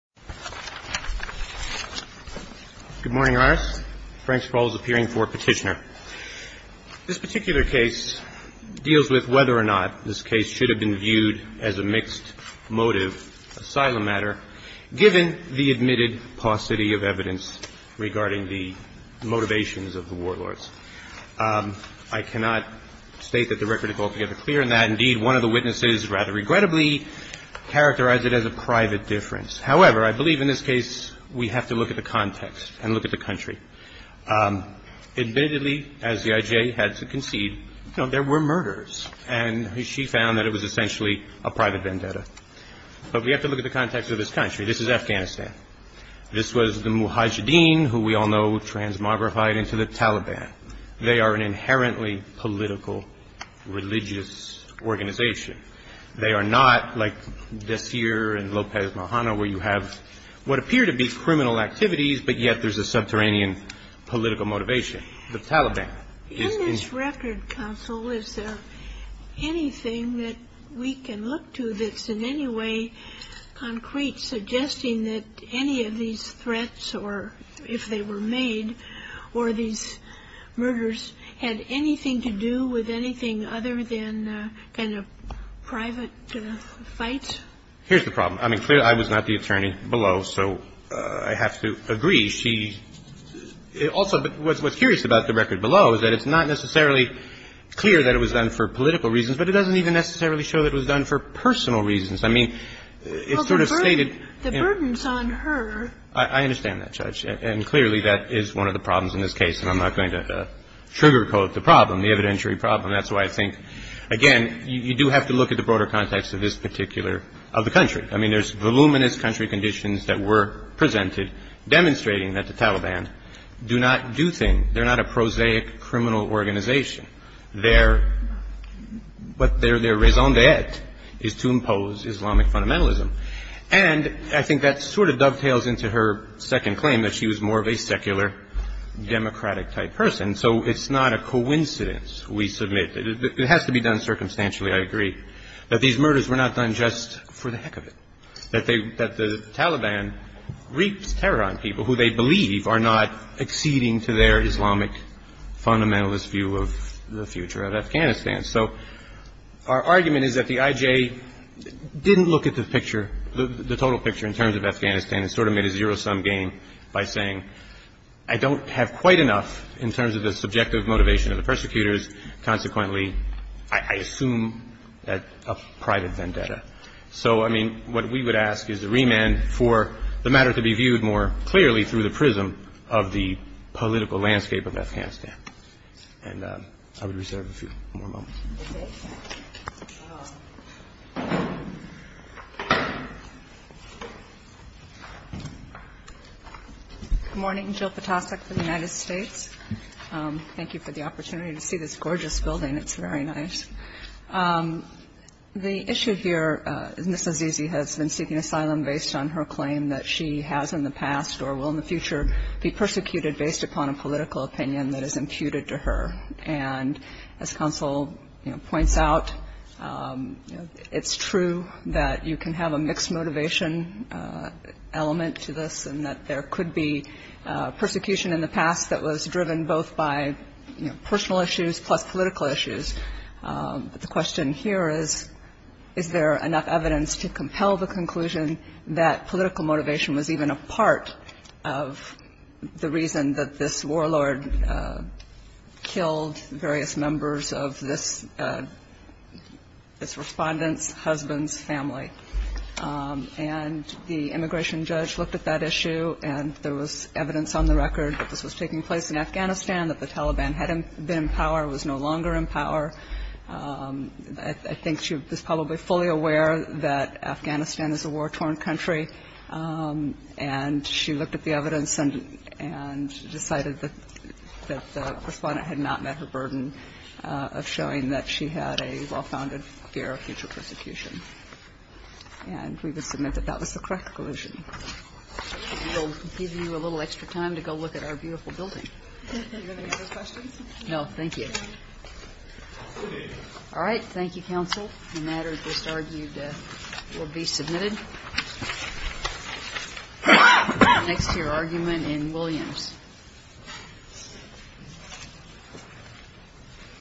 Good morning, Your Honor. Frank Spall is appearing for petitioner. This particular case deals with whether or not this case should have been viewed as a mixed motive asylum matter given the admitted paucity of evidence regarding the motivations of the warlords. I cannot state that the record is altogether clear in that, indeed, one of the witnesses rather I believe in this case we have to look at the context and look at the country. Admittedly, as the IJ had to concede, there were murders and she found that it was essentially a private vendetta. But we have to look at the context of this country. This is Afghanistan. This was the Mujahideen who we all know transmogrified into the Taliban. They are an inherently political religious organization. They are not like Desir and Lopez Mojano where you have what appear to be criminal activities, but yet there's a subterranean political motivation. The Taliban is In this record, counsel, is there anything that we can look to that's in any way concrete suggesting that any of these threats or if they were made or these threats were made by the Taliban, that there was anything other than kind of private fight? Here's the problem. I mean, clearly, I was not the attorney below, so I have to agree. She also was curious about the record below is that it's not necessarily clear that it was done for political reasons, but it doesn't even necessarily show that it was done for personal reasons. I mean, it's sort of stated the burden is on her. I understand that, Judge. And clearly, that is one of the problems in this case, and I'm not going to trigger code the problem, the evidentiary problem. That's why I think, again, you do have to look at the broader context of this particular of the country. I mean, there's voluminous country conditions that were presented demonstrating that the Taliban do not do things. They're not a prosaic criminal organization. Their raison d'etre is to impose Islamic fundamentalism. And I think that sort of dovetails into her second claim that she was more of a secular democratic type person. So it's not a coincidence, we submit. It has to be done terror on people who they believe are not acceding to their Islamic fundamentalist view of the future of Afghanistan. So our argument is that the IJ didn't look at the picture, the total picture in terms of Afghanistan and sort of made a zero-sum game by saying, I don't have quite enough in terms of the subjective motivation of the Taliban, but I do have enough in terms of the political landscape of Afghanistan. And I would reserve a few more moments. MS. GOTTLIEB Good morning. Jill Potosik for the United States. Thank you for the opportunity to see this gorgeous building. It's very nice. The issue here, Ms. Azizi has been seeking asylum based on her claim that she has in the past or will in the future be persecuted based upon a political opinion that is imputed to her. And as counsel points out, it's true that you can have a mixed motivation element to this and that there could be persecution in the past that was driven both by personal issues plus political issues. The question here is, is there enough evidence to compel the conclusion that political motivation was even a part of the reason that this warlord killed various members of this respondent's husband's family. And the immigration judge looked at that issue and there was evidence on the record that this was taking place in the past and that she was no longer in power. I think she was probably fully aware that Afghanistan is a war-torn country. And she looked at the evidence and decided that the respondent had not met her burden of showing that she had a well-founded fear of future persecution. And we would submit that that was the correct conclusion. We'll give you a little extra time to go look at our beautiful building. All right. Thank you, counsel. The matter just argued will be submitted next to your argument in Williams.